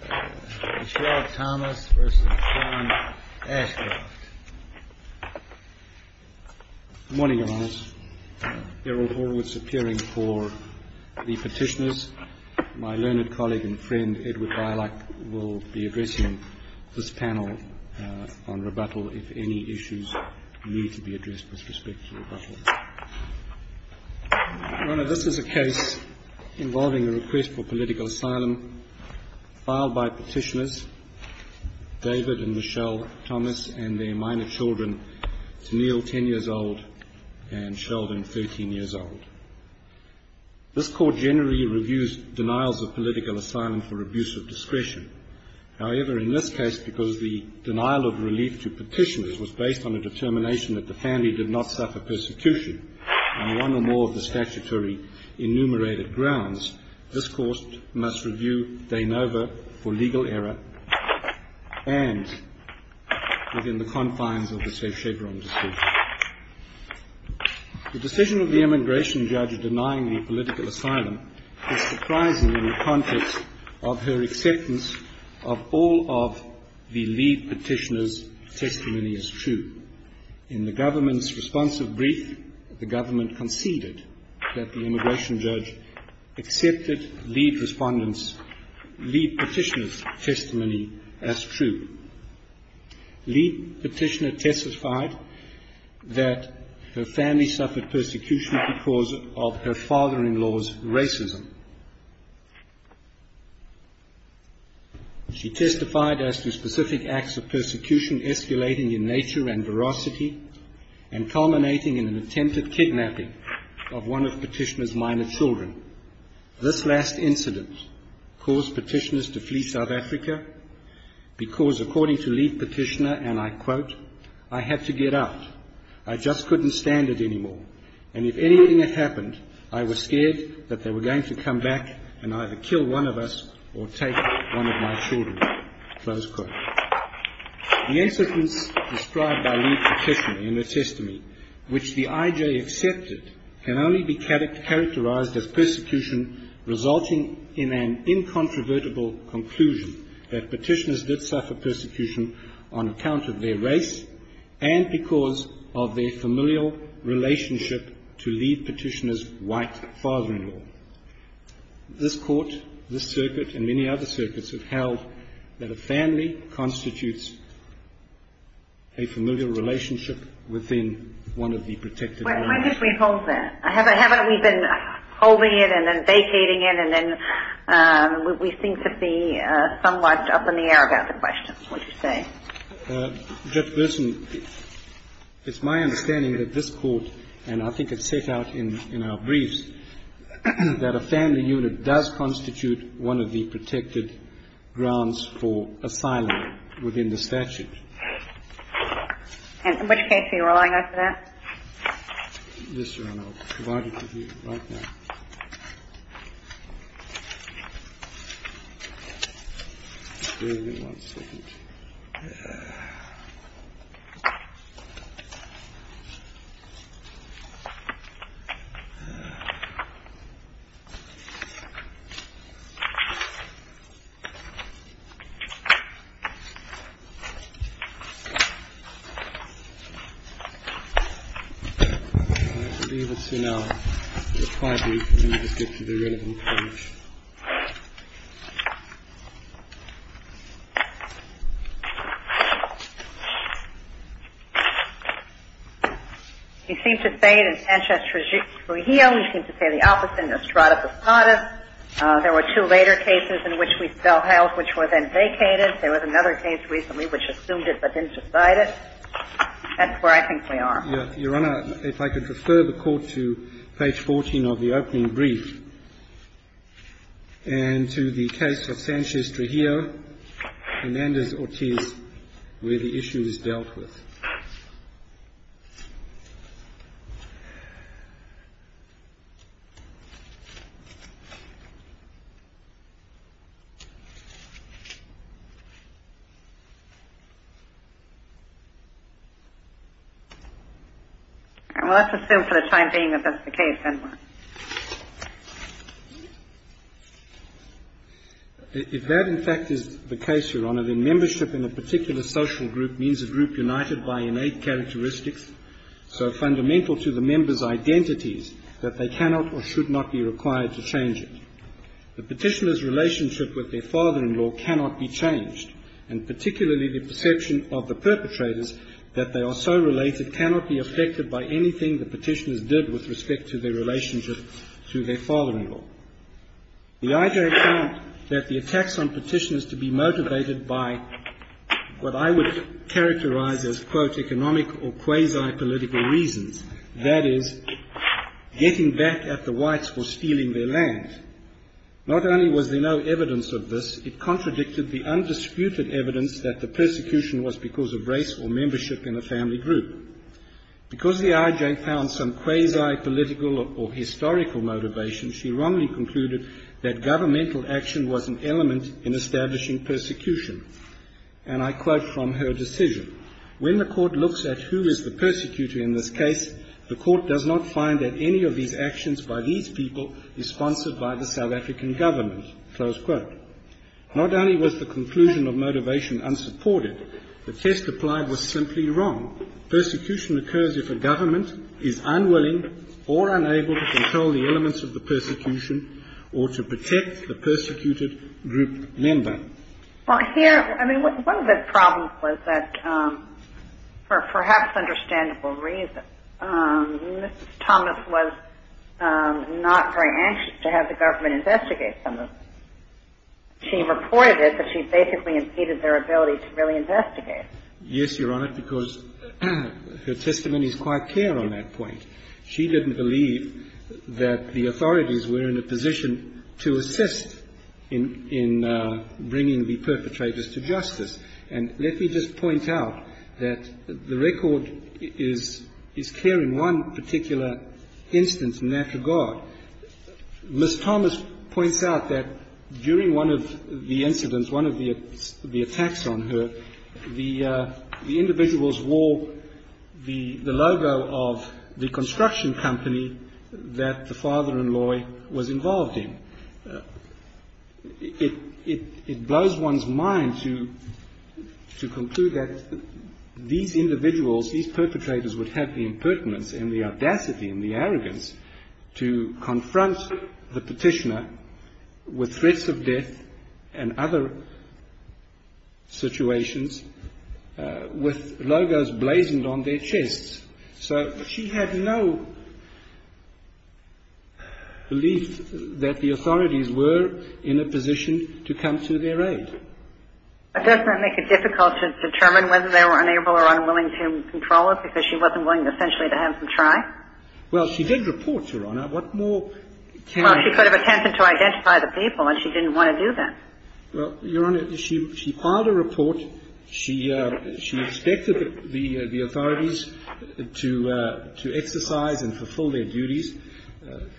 Good morning Your Honours, Beryl Horwitz appearing for the petitioners. My learned colleague and friend Edward Bylock will be addressing this panel on rebuttal if any issues need to be addressed with respect to rebuttal. Your Honours, this is a case involving a request for political asylum filed by petitioners David and Michelle Thomas and their minor children Tenille 10 years old and Sheldon 13 years old. This court generally reviews denials of political asylum for abuse of discretion. However, in this case, because the denial of relief to petitioners was based on a determination that the family did not suffer persecution on one or more of the statutory enumerated grounds, this court must review de novo for legal error and within the confines of the safe Chevron decision. The decision of the emigration judge of denying the political asylum is surprising in the context of her acceptance of all of the lead petitioner's testimony as true. In the government's responsive brief, the government conceded that the emigration judge accepted lead petitioner's testimony as true. Lead petitioner testified that her family suffered persecution because of her father-in-law's racism. She testified as to specific acts of persecution escalating in nature and veracity and culminating in an attempted kidnapping of one of petitioner's minor children. This last incident caused petitioners to flee South Africa because, according to lead petitioner, and I quote, I had to get out. I just couldn't stand it anymore, and if anything had happened, I was scared that they were going to come back and either kill one of us or take one of my children. The incidents described by lead petitioner in her testimony, which the IJ accepted, can only be characterized as persecution resulting in an incontrovertible conclusion that petitioners did suffer persecution on account of their race and because of their familial relationship to lead petitioner's white father-in-law. This court, this circuit, and many other circuits have held that a family constitutes a familial relationship within one of the protected units. Why don't we hold that? Haven't we been holding it and then vacating it and then we seem to be somewhat up in the air about the question? What do you say? Judge Gleeson, it's my understanding that this court, and I think it's set out in our briefs, that a family unit does constitute one of the protected grounds for asylum within the statute. In which case, are you relying on that? Yes, Your Honor. I'll provide it to you right now. I'll be able to now reply to you when we get to the relevant point. You seem to say it in Sanchez-Trujillo, you seem to say the opposite in Estrada-Posadas. There were two later cases in which we still held which were then vacated. There was another case recently which assumed it but didn't decide it. That's where I think we are. Your Honor, if I could refer the Court to page 14 of the opening brief and to the case of Sanchez-Trujillo, Hernandez-Ortiz, where the issue is dealt with. If that, in fact, is the case, Your Honor, then membership in a particular social group means a group united by innate characteristics so fundamental to the members' identities that they cannot or should not be required to change it. The petitioner's relationship with their father-in-law cannot be changed, and particularly the perception of the perpetrators that they are so related cannot be affected by anything the petitioners did with respect to their relationship to their father-in-law. The IJ found that the attacks on petitioners to be motivated by what I would characterize as, quote, economic or quasi-political reasons, that is, getting back at the whites for stealing their land. Not only was there no evidence of this, it contradicted the undisputed evidence that the persecution was because of race or membership in a family group. Because the IJ found some quasi-political or historical motivation, she wrongly concluded that governmental action was an element in establishing persecution. And I quote from her decision, When the Court looks at who is the persecutor in this case, the Court does not find that any of these actions by these people is sponsored by the South African government. Close quote. Not only was the conclusion of motivation unsupported, the test applied was simply wrong. Persecution occurs if a government is unwilling or unable to control the elements of the persecution or to protect the persecuted group member. Well, here, I mean, one of the problems was that for perhaps understandable reasons, Mrs. Thomas was not very anxious to have the government investigate some of this. She reported it, but she basically impeded their ability to really investigate. Yes, Your Honor, because her testimony is quite clear on that point. She didn't believe that the authorities were in a position to assist in bringing the perpetrators to justice. And let me just point out that the record is clear in one particular instance in that regard. Mrs. Thomas points out that during one of the incidents, one of the attacks on her, the individuals wore the logo of the construction company that the father-in-law was involved in. It blows one's mind to conclude that these individuals, these perpetrators would have the impertinence and the audacity and the arrogance to confront the petitioner with threats of death and other situations with logos blazoned on their chests. So she had no belief that the authorities were in a position to come to their aid. But doesn't that make it difficult to determine whether they were unable or unwilling to control it because she wasn't willing, essentially, to have them try? Well, she did report, Your Honor. What more can you do? Well, she could have attempted to identify the people, and she didn't want to do that. Well, Your Honor, she filed a report. She expected the authorities to exercise and fulfill their duties.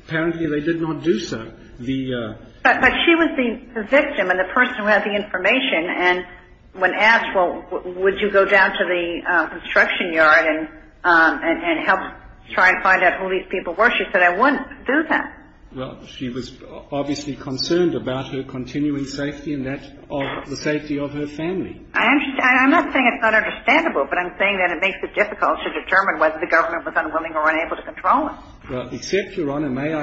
Apparently, they did not do so. But she was the victim and the person who had the information, and when asked, well, would you go down to the construction yard and help try and find out who these people were, she said, I wouldn't do that. Well, she was obviously concerned about her continuing safety and that of the safety of her family. I'm not saying it's not understandable, but I'm saying that it makes it difficult to determine whether the government was unwilling or unable to control it. Well, except, Your Honor, may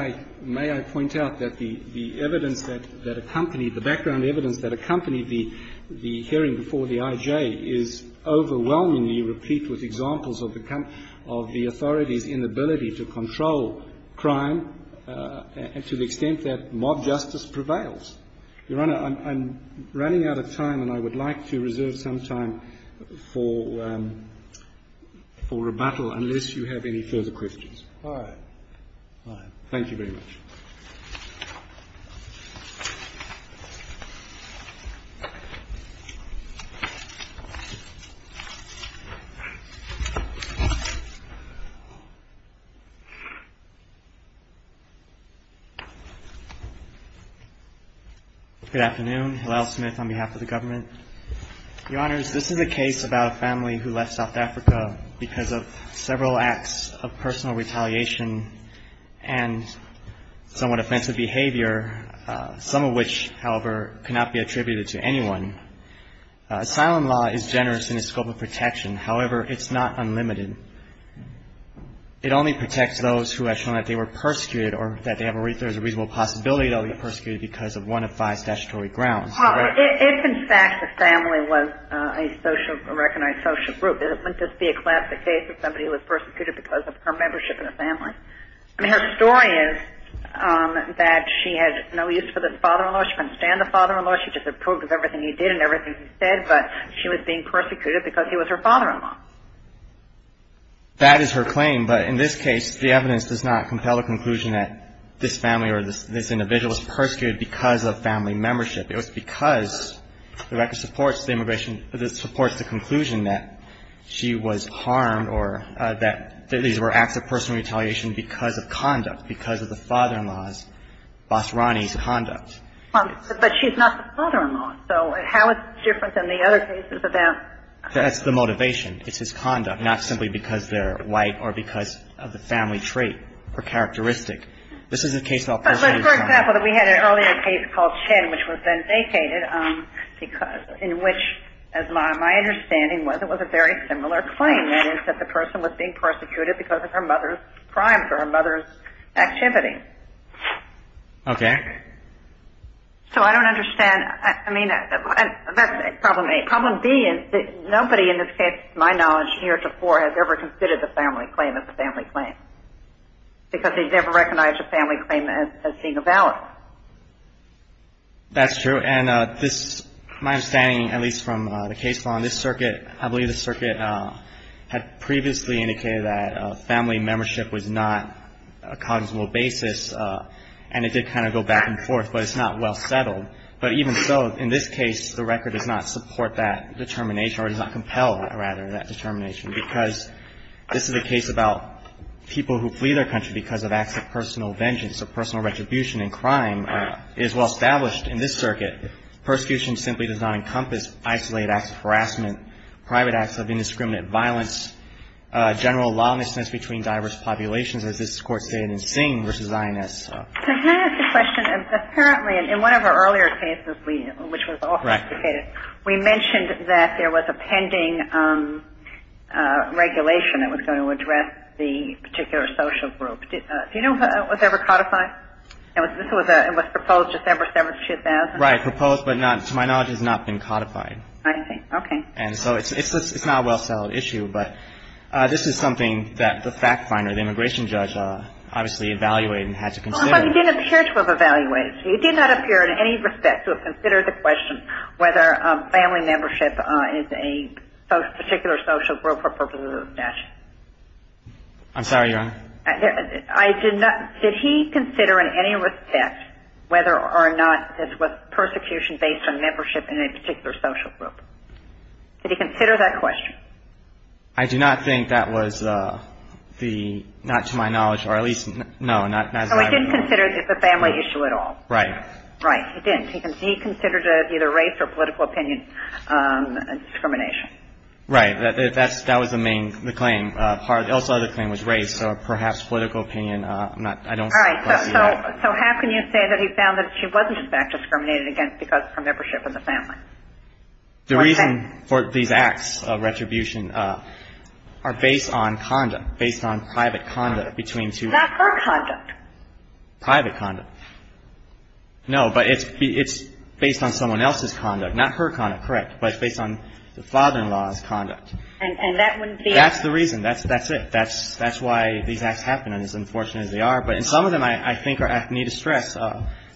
I point out that the evidence that accompanied the background evidence that accompanied the hearing before the IJ is overwhelmingly replete with examples of the authorities' inability to control crime to the extent that mob justice prevails. Your Honor, I'm running out of time, and I would like to reserve some time for rebuttal unless you have any further questions. All right. All right. Thank you very much. Good afternoon. Hillel Smith on behalf of the government. Your Honors, this is a case about a family who left South Africa because of several acts of personal retaliation and somewhat offensive behavior, some of which, however, cannot be attributed to anyone. Asylum law is generous in its scope of protection. However, it's not unlimited. It only protects those who have shown that they were persecuted or that there is a reasonable possibility that they were persecuted because of one of five statutory grounds. It's in fact the family was a recognized social group. It wouldn't just be a classic case of somebody who was persecuted because of her membership in a family. I mean, her story is that she had no use for the father-in-law. She couldn't stand the father-in-law. She disapproved of everything he did and everything he said, but she was being persecuted because he was her father-in-law. That is her claim, but in this case, the evidence does not compel the conclusion that this family or this individual was persecuted because of family membership. It was because the record supports the immigration – supports the conclusion that she was harmed or that these were acts of personal retaliation because of conduct, because of the father-in-law's, Basrani's conduct. But she's not the father-in-law, so how is it different than the other cases of that? That's the motivation. It's his conduct, not simply because they're white or because of the family trait or characteristic. This is a case about personal retaliation. For example, we had an earlier case called Chen, which was then vacated, in which, as my understanding was, it was a very similar claim. That is, that the person was being persecuted because of her mother's crimes or her mother's activity. Okay. So I don't understand. I mean, that's problem A. Problem B is that nobody in this case, to my knowledge, here to four, has ever considered the family claim as a family claim because they've never recognized the family claim as being a valid. That's true. And this, my understanding, at least from the case law on this circuit, I believe the circuit had previously indicated that family membership was not a cognizable basis, and it did kind of go back and forth, but it's not well settled. But even so, in this case, the record does not support that determination or does not compel, rather, that determination because this is a case about people who flee their country because of acts of personal vengeance or personal retribution and crime is well established in this circuit. Persecution simply does not encompass isolated acts of harassment, private acts of indiscriminate violence, general lawlessness between diverse populations, as this Court stated in Singh v. INS. Can I ask a question? Apparently, in one of our earlier cases, which was also vacated, we mentioned that there was a pending regulation that was going to address the particular social group. Do you know if it was ever codified? It was proposed December 7, 2000? Right. Proposed, but to my knowledge, has not been codified. I see. Okay. And so it's not a well-settled issue, but this is something that the fact finder, the immigration judge, obviously evaluated and had to consider. But you didn't appear to have evaluated. You did not appear in any respect to have considered the question whether family membership is a particular social group or purposes of possession. I'm sorry, Your Honor? I did not. Did he consider in any respect whether or not this was persecution based on membership in a particular social group? Did he consider that question? I do not think that was the, not to my knowledge, or at least, no, not as I remember. So he didn't consider it a family issue at all? Right. Right. He didn't. He considered it either race or political opinion discrimination. Right. That was the main claim. The other claim was race or perhaps political opinion. I'm not, I don't. All right. So how can you say that he found that she wasn't in fact discriminated against because of her membership in the family? The reason for these acts of retribution are based on conduct, based on private conduct between two. Not her conduct. Private conduct. No, but it's based on someone else's conduct, not her conduct. Correct. But it's based on the father-in-law's conduct. And that wouldn't be. That's the reason. That's it. That's why these acts happen, and as unfortunate as they are. But in some of them, I think I need to stress,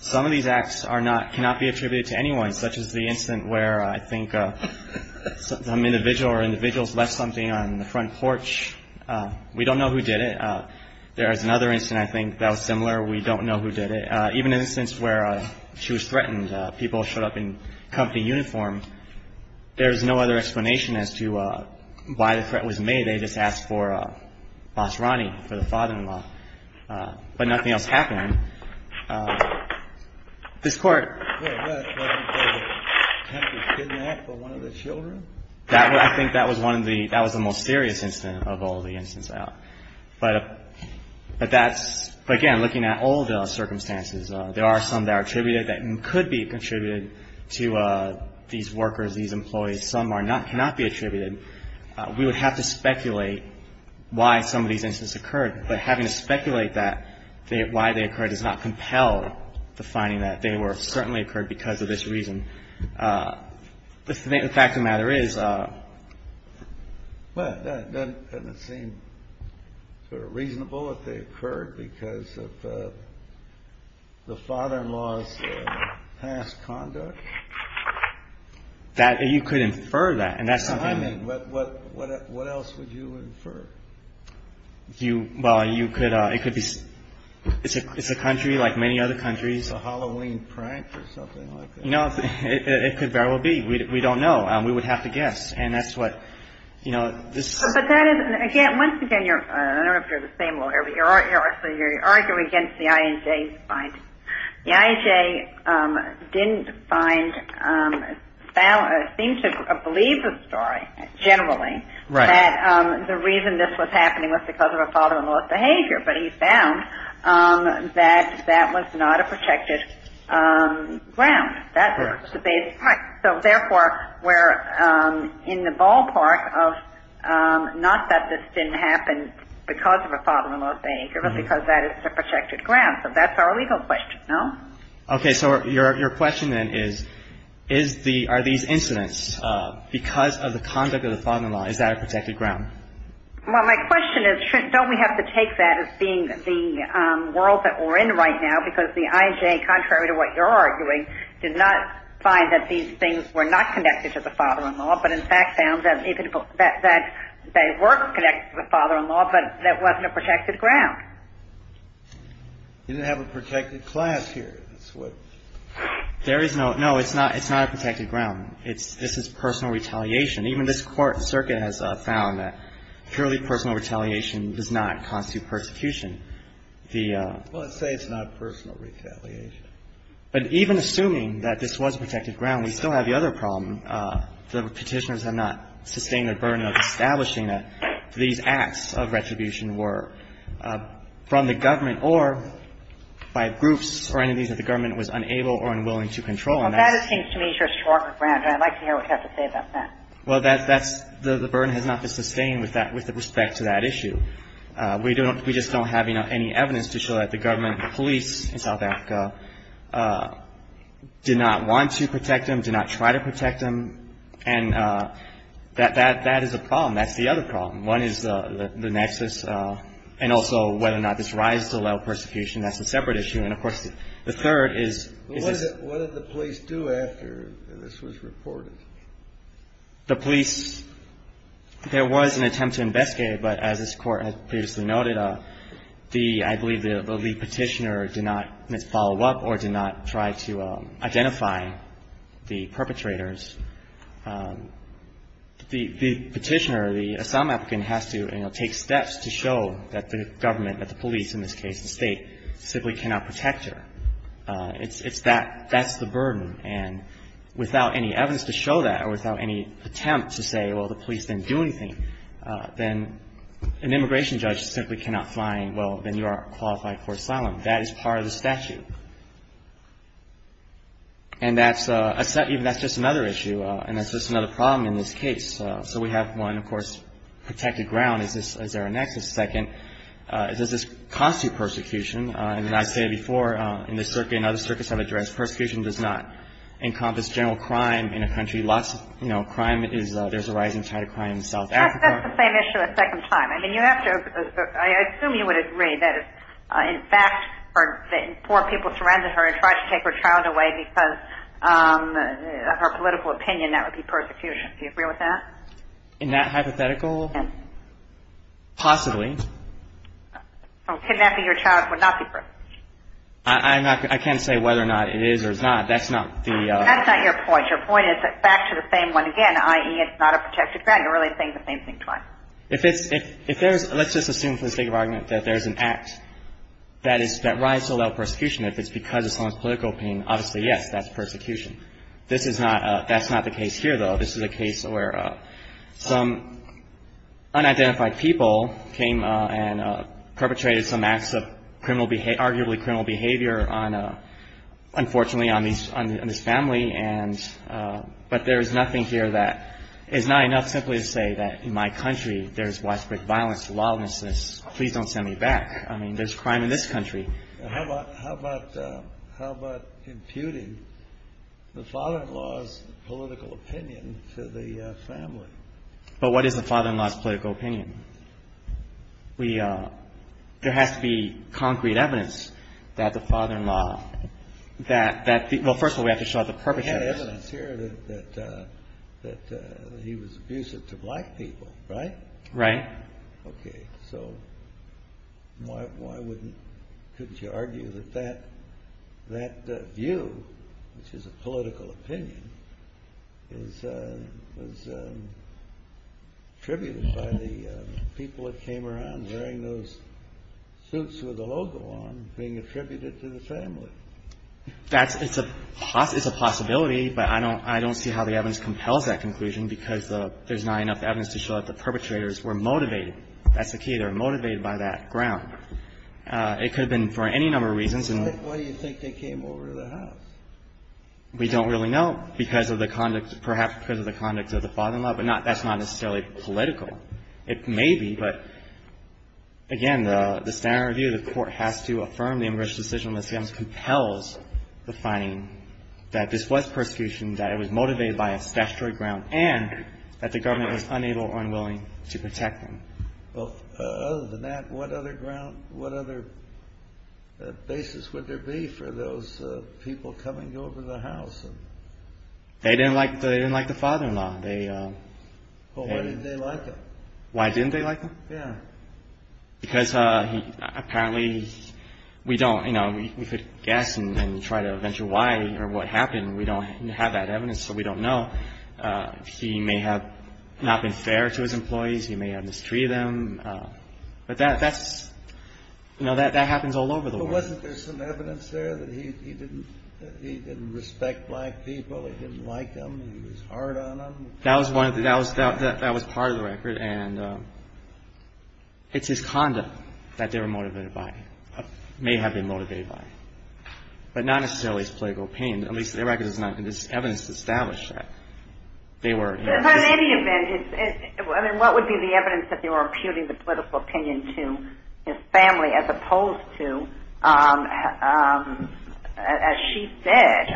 some of these acts cannot be attributed to anyone, such as the incident where I think some individual or individuals left something on the front porch. We don't know who did it. There is another incident I think that was similar. We don't know who did it. Even in the instance where she was threatened, people showed up in company uniforms. There is no other explanation as to why the threat was made. They just asked for Basrani, for the father-in-law. But nothing else happened. This Court. Well, wasn't there an attempt to kidnap one of the children? That was, I think that was one of the, that was the most serious incident of all the incidents. But that's, again, looking at all the circumstances, there are some that are attributed that could be contributed to these workers, these employees. Some are not, cannot be attributed. We would have to speculate why some of these incidents occurred. But having to speculate that, why they occurred, does not compel the finding that they were certainly occurred because of this reason. The fact of the matter is. Well, that doesn't seem reasonable if they occurred because of the father-in-law's past conduct. That you could infer that. And that's what I mean. What else would you infer? Well, you could. It's a country like many other countries. A Halloween prank or something like that. No, it could very well be. We don't know. We would have to guess. And that's what, you know, this. But that is, again, once again, I don't know if you're the same lawyer, but you're arguing against the INJ's finding. The INJ didn't find, seemed to believe the story, generally. Right. That the reason this was happening was because of a father-in-law's behavior. But he found that that was not a protected ground. Correct. Right. So, therefore, we're in the ballpark of not that this didn't happen because of a father-in-law's behavior, but because that is a protected ground. So that's our legal question, no? Okay. So your question then is, is the, are these incidents because of the conduct of the father-in-law? Is that a protected ground? Well, my question is, shouldn't, don't we have to take that as being the world that we're in right now? Because the INJ, contrary to what you're arguing, did not find that these things were not connected to the father-in-law, but, in fact, found that they were connected to the father-in-law, but that wasn't a protected ground. You didn't have a protected class here. There is no, no, it's not a protected ground. This is personal retaliation. Even this Court and Circuit has found that purely personal retaliation does not constitute persecution. The ---- Well, let's say it's not personal retaliation. But even assuming that this was a protected ground, we still have the other problem. The Petitioners have not sustained the burden of establishing that these acts of retribution were from the government or by groups or any of these that the government was unable or unwilling to control. And that's ---- Well, that seems to me to be a stronger ground, and I'd like to hear what you have to say about that. Well, that's, that's, the burden has not been sustained with that, with respect to that issue. We don't, we just don't have any evidence to show that the government police in South Africa did not want to protect them, did not try to protect them. And that, that, that is a problem. That's the other problem. One is the nexus, and also whether or not this rises to the level of persecution. That's a separate issue. And, of course, the third is, is this ---- What did the police do after this was reported? The police, there was an attempt to investigate, but as this Court has previously noted, the, I believe the lead Petitioner did not follow up or did not try to identify the perpetrators. The Petitioner, the asylum applicant has to, you know, take steps to show that the government, that the police, in this case the State, simply cannot protect her. And without any evidence to show that, or without any attempt to say, well, the police didn't do anything, then an immigration judge simply cannot find, well, then you are qualified for asylum. That is part of the statute. And that's a, that's just another issue, and that's just another problem in this case. So we have one, of course, protected ground. Is this, is there a nexus? Second, does this cost you persecution? And as I said before, in this circuit and other circuits I've addressed, persecution does not encompass general crime in a country. Lots of, you know, crime is, there's a rising tide of crime in South Africa. That's the same issue a second time. I mean, you have to, I assume you would agree that if, in fact, poor people surrender her and try to take her child away because of her political opinion, that would be persecution. Do you agree with that? In that hypothetical, possibly. Kidnapping your child would not be persecution. I'm not, I can't say whether or not it is or is not. That's not the. That's not your point. Your point is back to the same one again, i.e., it's not a protected ground. You're really saying the same thing twice. If it's, if there's, let's just assume for the sake of argument that there's an act that is, that rises to allow persecution. If it's because of someone's political opinion, obviously, yes, that's persecution. This is not, that's not the case here, though. This is a case where some unidentified people came and perpetrated some acts of criminal, arguably criminal behavior on, unfortunately, on this family. And, but there is nothing here that is not enough simply to say that in my country there is widespread violence, lawlessness, please don't send me back. How about, how about, how about imputing the father-in-law's political opinion to the family? But what is the father-in-law's political opinion? We, there has to be concrete evidence that the father-in-law, that, that, well, first of all, we have to show the perpetrators. We have evidence here that, that he was abusive to black people, right? Right. Okay. So why, why wouldn't, couldn't you argue that that, that view, which is a political opinion, is, was attributed by the people that came around wearing those suits with the logo on being attributed to the family? That's, it's a, it's a possibility, but I don't, I don't see how the evidence compels that conclusion because the, there's not enough evidence to show that the perpetrators were motivated. That's the key. They were motivated by that ground. It could have been for any number of reasons. Why, why do you think they came over to the house? We don't really know because of the conduct, perhaps because of the conduct of the father-in-law, but not, that's not necessarily political. It may be, but again, the, the standard review, the Court has to affirm the immigration compels the finding that this was persecution, that it was motivated by a statutory ground, and that the government was unable or unwilling to protect them. Well, other than that, what other ground, what other basis would there be for those people coming over to the house? They didn't like, they didn't like the father-in-law. Well, why didn't they like him? Why didn't they like him? Yeah. Because he, apparently, we don't, you know, we could guess and try to venture why or what happened. We don't have that evidence, so we don't know. He may have not been fair to his employees. He may have mistreated them. But that, that's, you know, that happens all over the world. But wasn't there some evidence there that he didn't, that he didn't respect black people, he didn't like them, he was hard on them? That was one of the, that was part of the record, and it's his conduct that they were motivated by, may have been motivated by, but not necessarily his political opinion. At least their record does not have evidence to establish that they were. But in any event, I mean, what would be the evidence that they were imputing the political opinion to his family, as opposed to, as she said,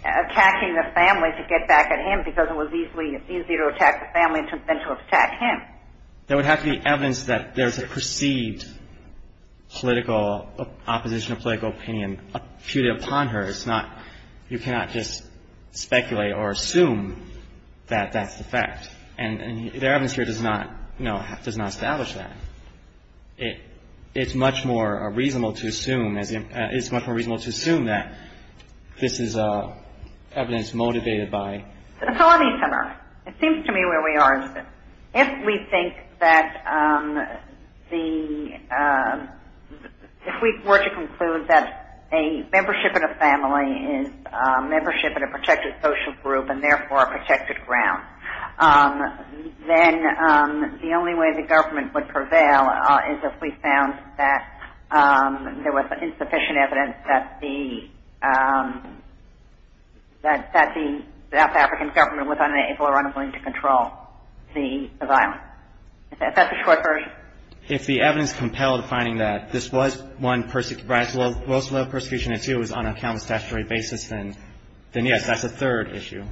attacking the family to get back at him because it was easily, easier to attack the family than to attack him? There would have to be evidence that there's a perceived political, opposition to political opinion imputed upon her. It's not, you cannot just speculate or assume that that's the fact. And their evidence here does not, you know, does not establish that. It's much more reasonable to assume, it's much more reasonable to assume that this is evidence motivated by. It's a lot easier. It seems to me where we are is that if we think that the, if we were to conclude that a membership in a family is a membership in a protected social group and therefore a protected ground, then the only way the government would prevail is if we found that there was insufficient evidence that the, that the South African government was unable or unwilling to control the violence. If that's the short version. If the evidence compelled finding that this was one person, well, it's a low persecution and two is on a count of statutory basis, then yes, that's a third issue.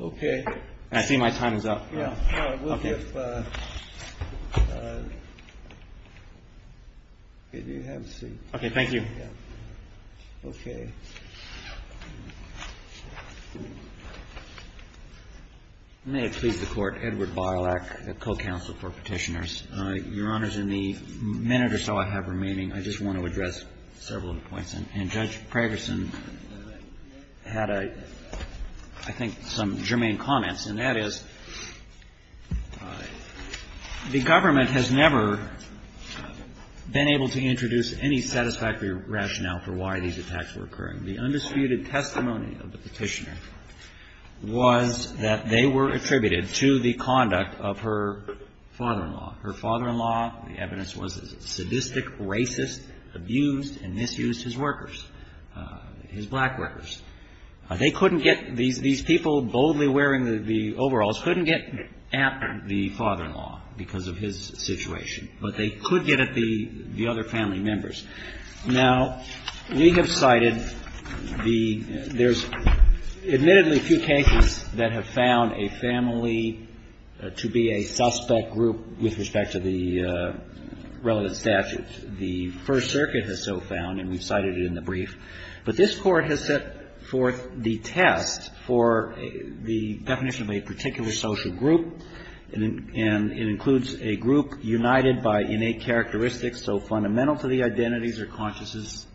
Okay. And I see my time is up. Yeah. All right. We'll give, could you have a seat? Okay. Thank you. Okay. May it please the Court. Edward Bialak, the co-counsel for Petitioners. Your Honors, in the minute or so I have remaining, I just want to address several points. And Judge Pragerson had a, I think, some germane comments, and that is the government has never been able to introduce any satisfactory rationale for why these attacks were occurring. The undisputed testimony of the Petitioner was that they were attributed to the conduct of her father-in-law. Her father-in-law, the evidence was a sadistic, racist, abused and misused his workers, his black workers. They couldn't get, these people boldly wearing the overalls couldn't get at the father-in-law because of his situation. But they could get at the other family members. Now, we have cited the, there's admittedly few cases that have found a family to be a suspect group with respect to the relevant statutes. The First Circuit has so found, and we've cited it in the brief. But this Court has set forth the test for the definition of a particular social group, and it includes a group united by innate characteristics so fundamental to the identities or consciences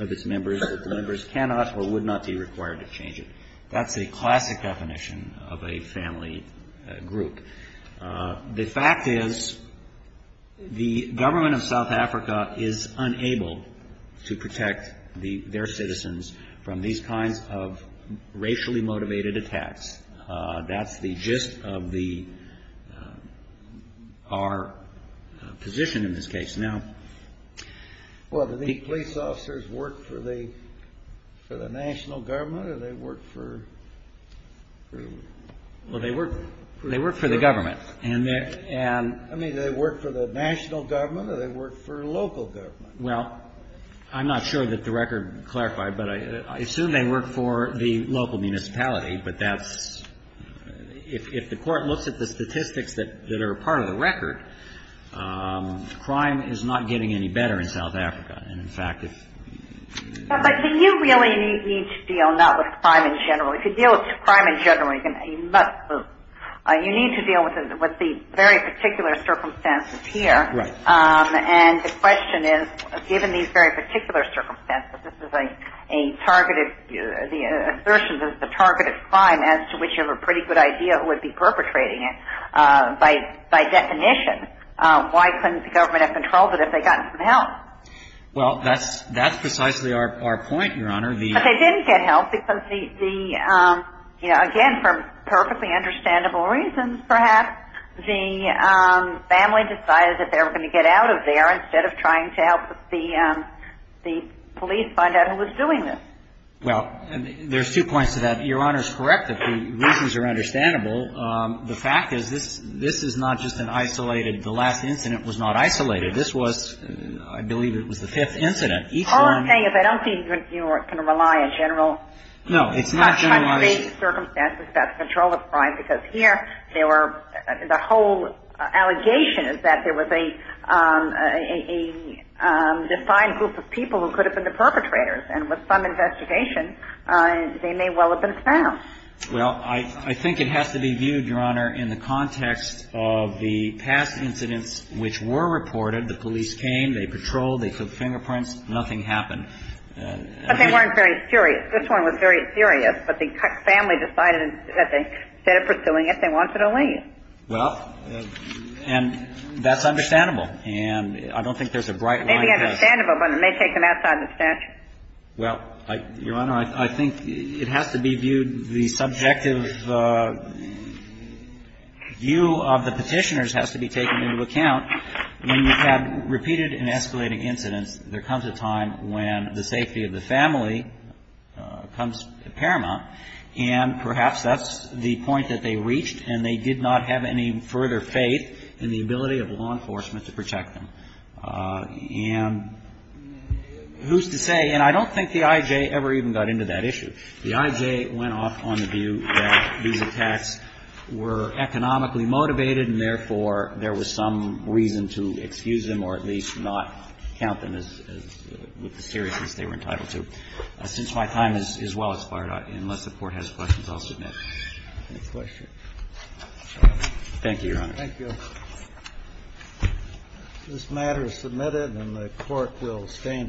of its members that the members cannot or would not be required to change it. That's a classic definition of a family group. The fact is the government of South Africa is unable to protect their citizens from these kinds of racially motivated attacks. That's the gist of the, our position in this case. Now, the police officers work for the national government, or they work for? Well, they work for the government. I mean, do they work for the national government, or do they work for local government? Well, I'm not sure that the record clarified, but I assume they work for the local municipality. But that's, if the Court looks at the statistics that are part of the record, crime is not getting any better in South Africa. But do you really need to deal not with crime in general? If you deal with crime in general, you need to deal with the very particular circumstances here. Right. And the question is, given these very particular circumstances, this is a targeted, the assertion that it's a targeted crime as to which you have a pretty good idea who would be Well, that's precisely our point, Your Honor. But they didn't get help because the, again, for perfectly understandable reasons, perhaps, the family decided that they were going to get out of there instead of trying to help the police find out who was doing this. Well, there's two points to that. Your Honor's correct if the reasons are understandable. The fact is this is not just an isolated, the last incident was not isolated. This was, I believe it was the fifth incident. Each one All I'm saying is I don't think you can rely on general No, it's not generalizing circumstances about the control of crime because here there were, the whole allegation is that there was a defined group of people who could have been the perpetrators. And with some investigation, they may well have been found. Well, I think it has to be viewed, Your Honor, in the context of the past incidents which were reported. The police came. They patrolled. They took fingerprints. Nothing happened. But they weren't very serious. This one was very serious. But the family decided that instead of pursuing it, they wanted to leave. Well, and that's understandable. And I don't think there's a bright line It may be understandable, but it may take them outside the statute. Well, Your Honor, I think it has to be viewed, the subjective view of the Petitioners has to be taken into account. When you have repeated and escalating incidents, there comes a time when the safety of the family comes paramount. And perhaps that's the point that they reached, and they did not have any further faith in the ability of law enforcement to protect them. And who's to say, and I don't think the I.J. ever even got into that issue. The I.J. went off on the view that these attacks were economically motivated, and therefore, there was some reason to excuse them or at least not count them as with the seriousness they were entitled to. Since my time is well expired, unless the Court has questions, I'll submit. Thank you, Your Honor. This matter is submitted, and the Court will stand adjourned.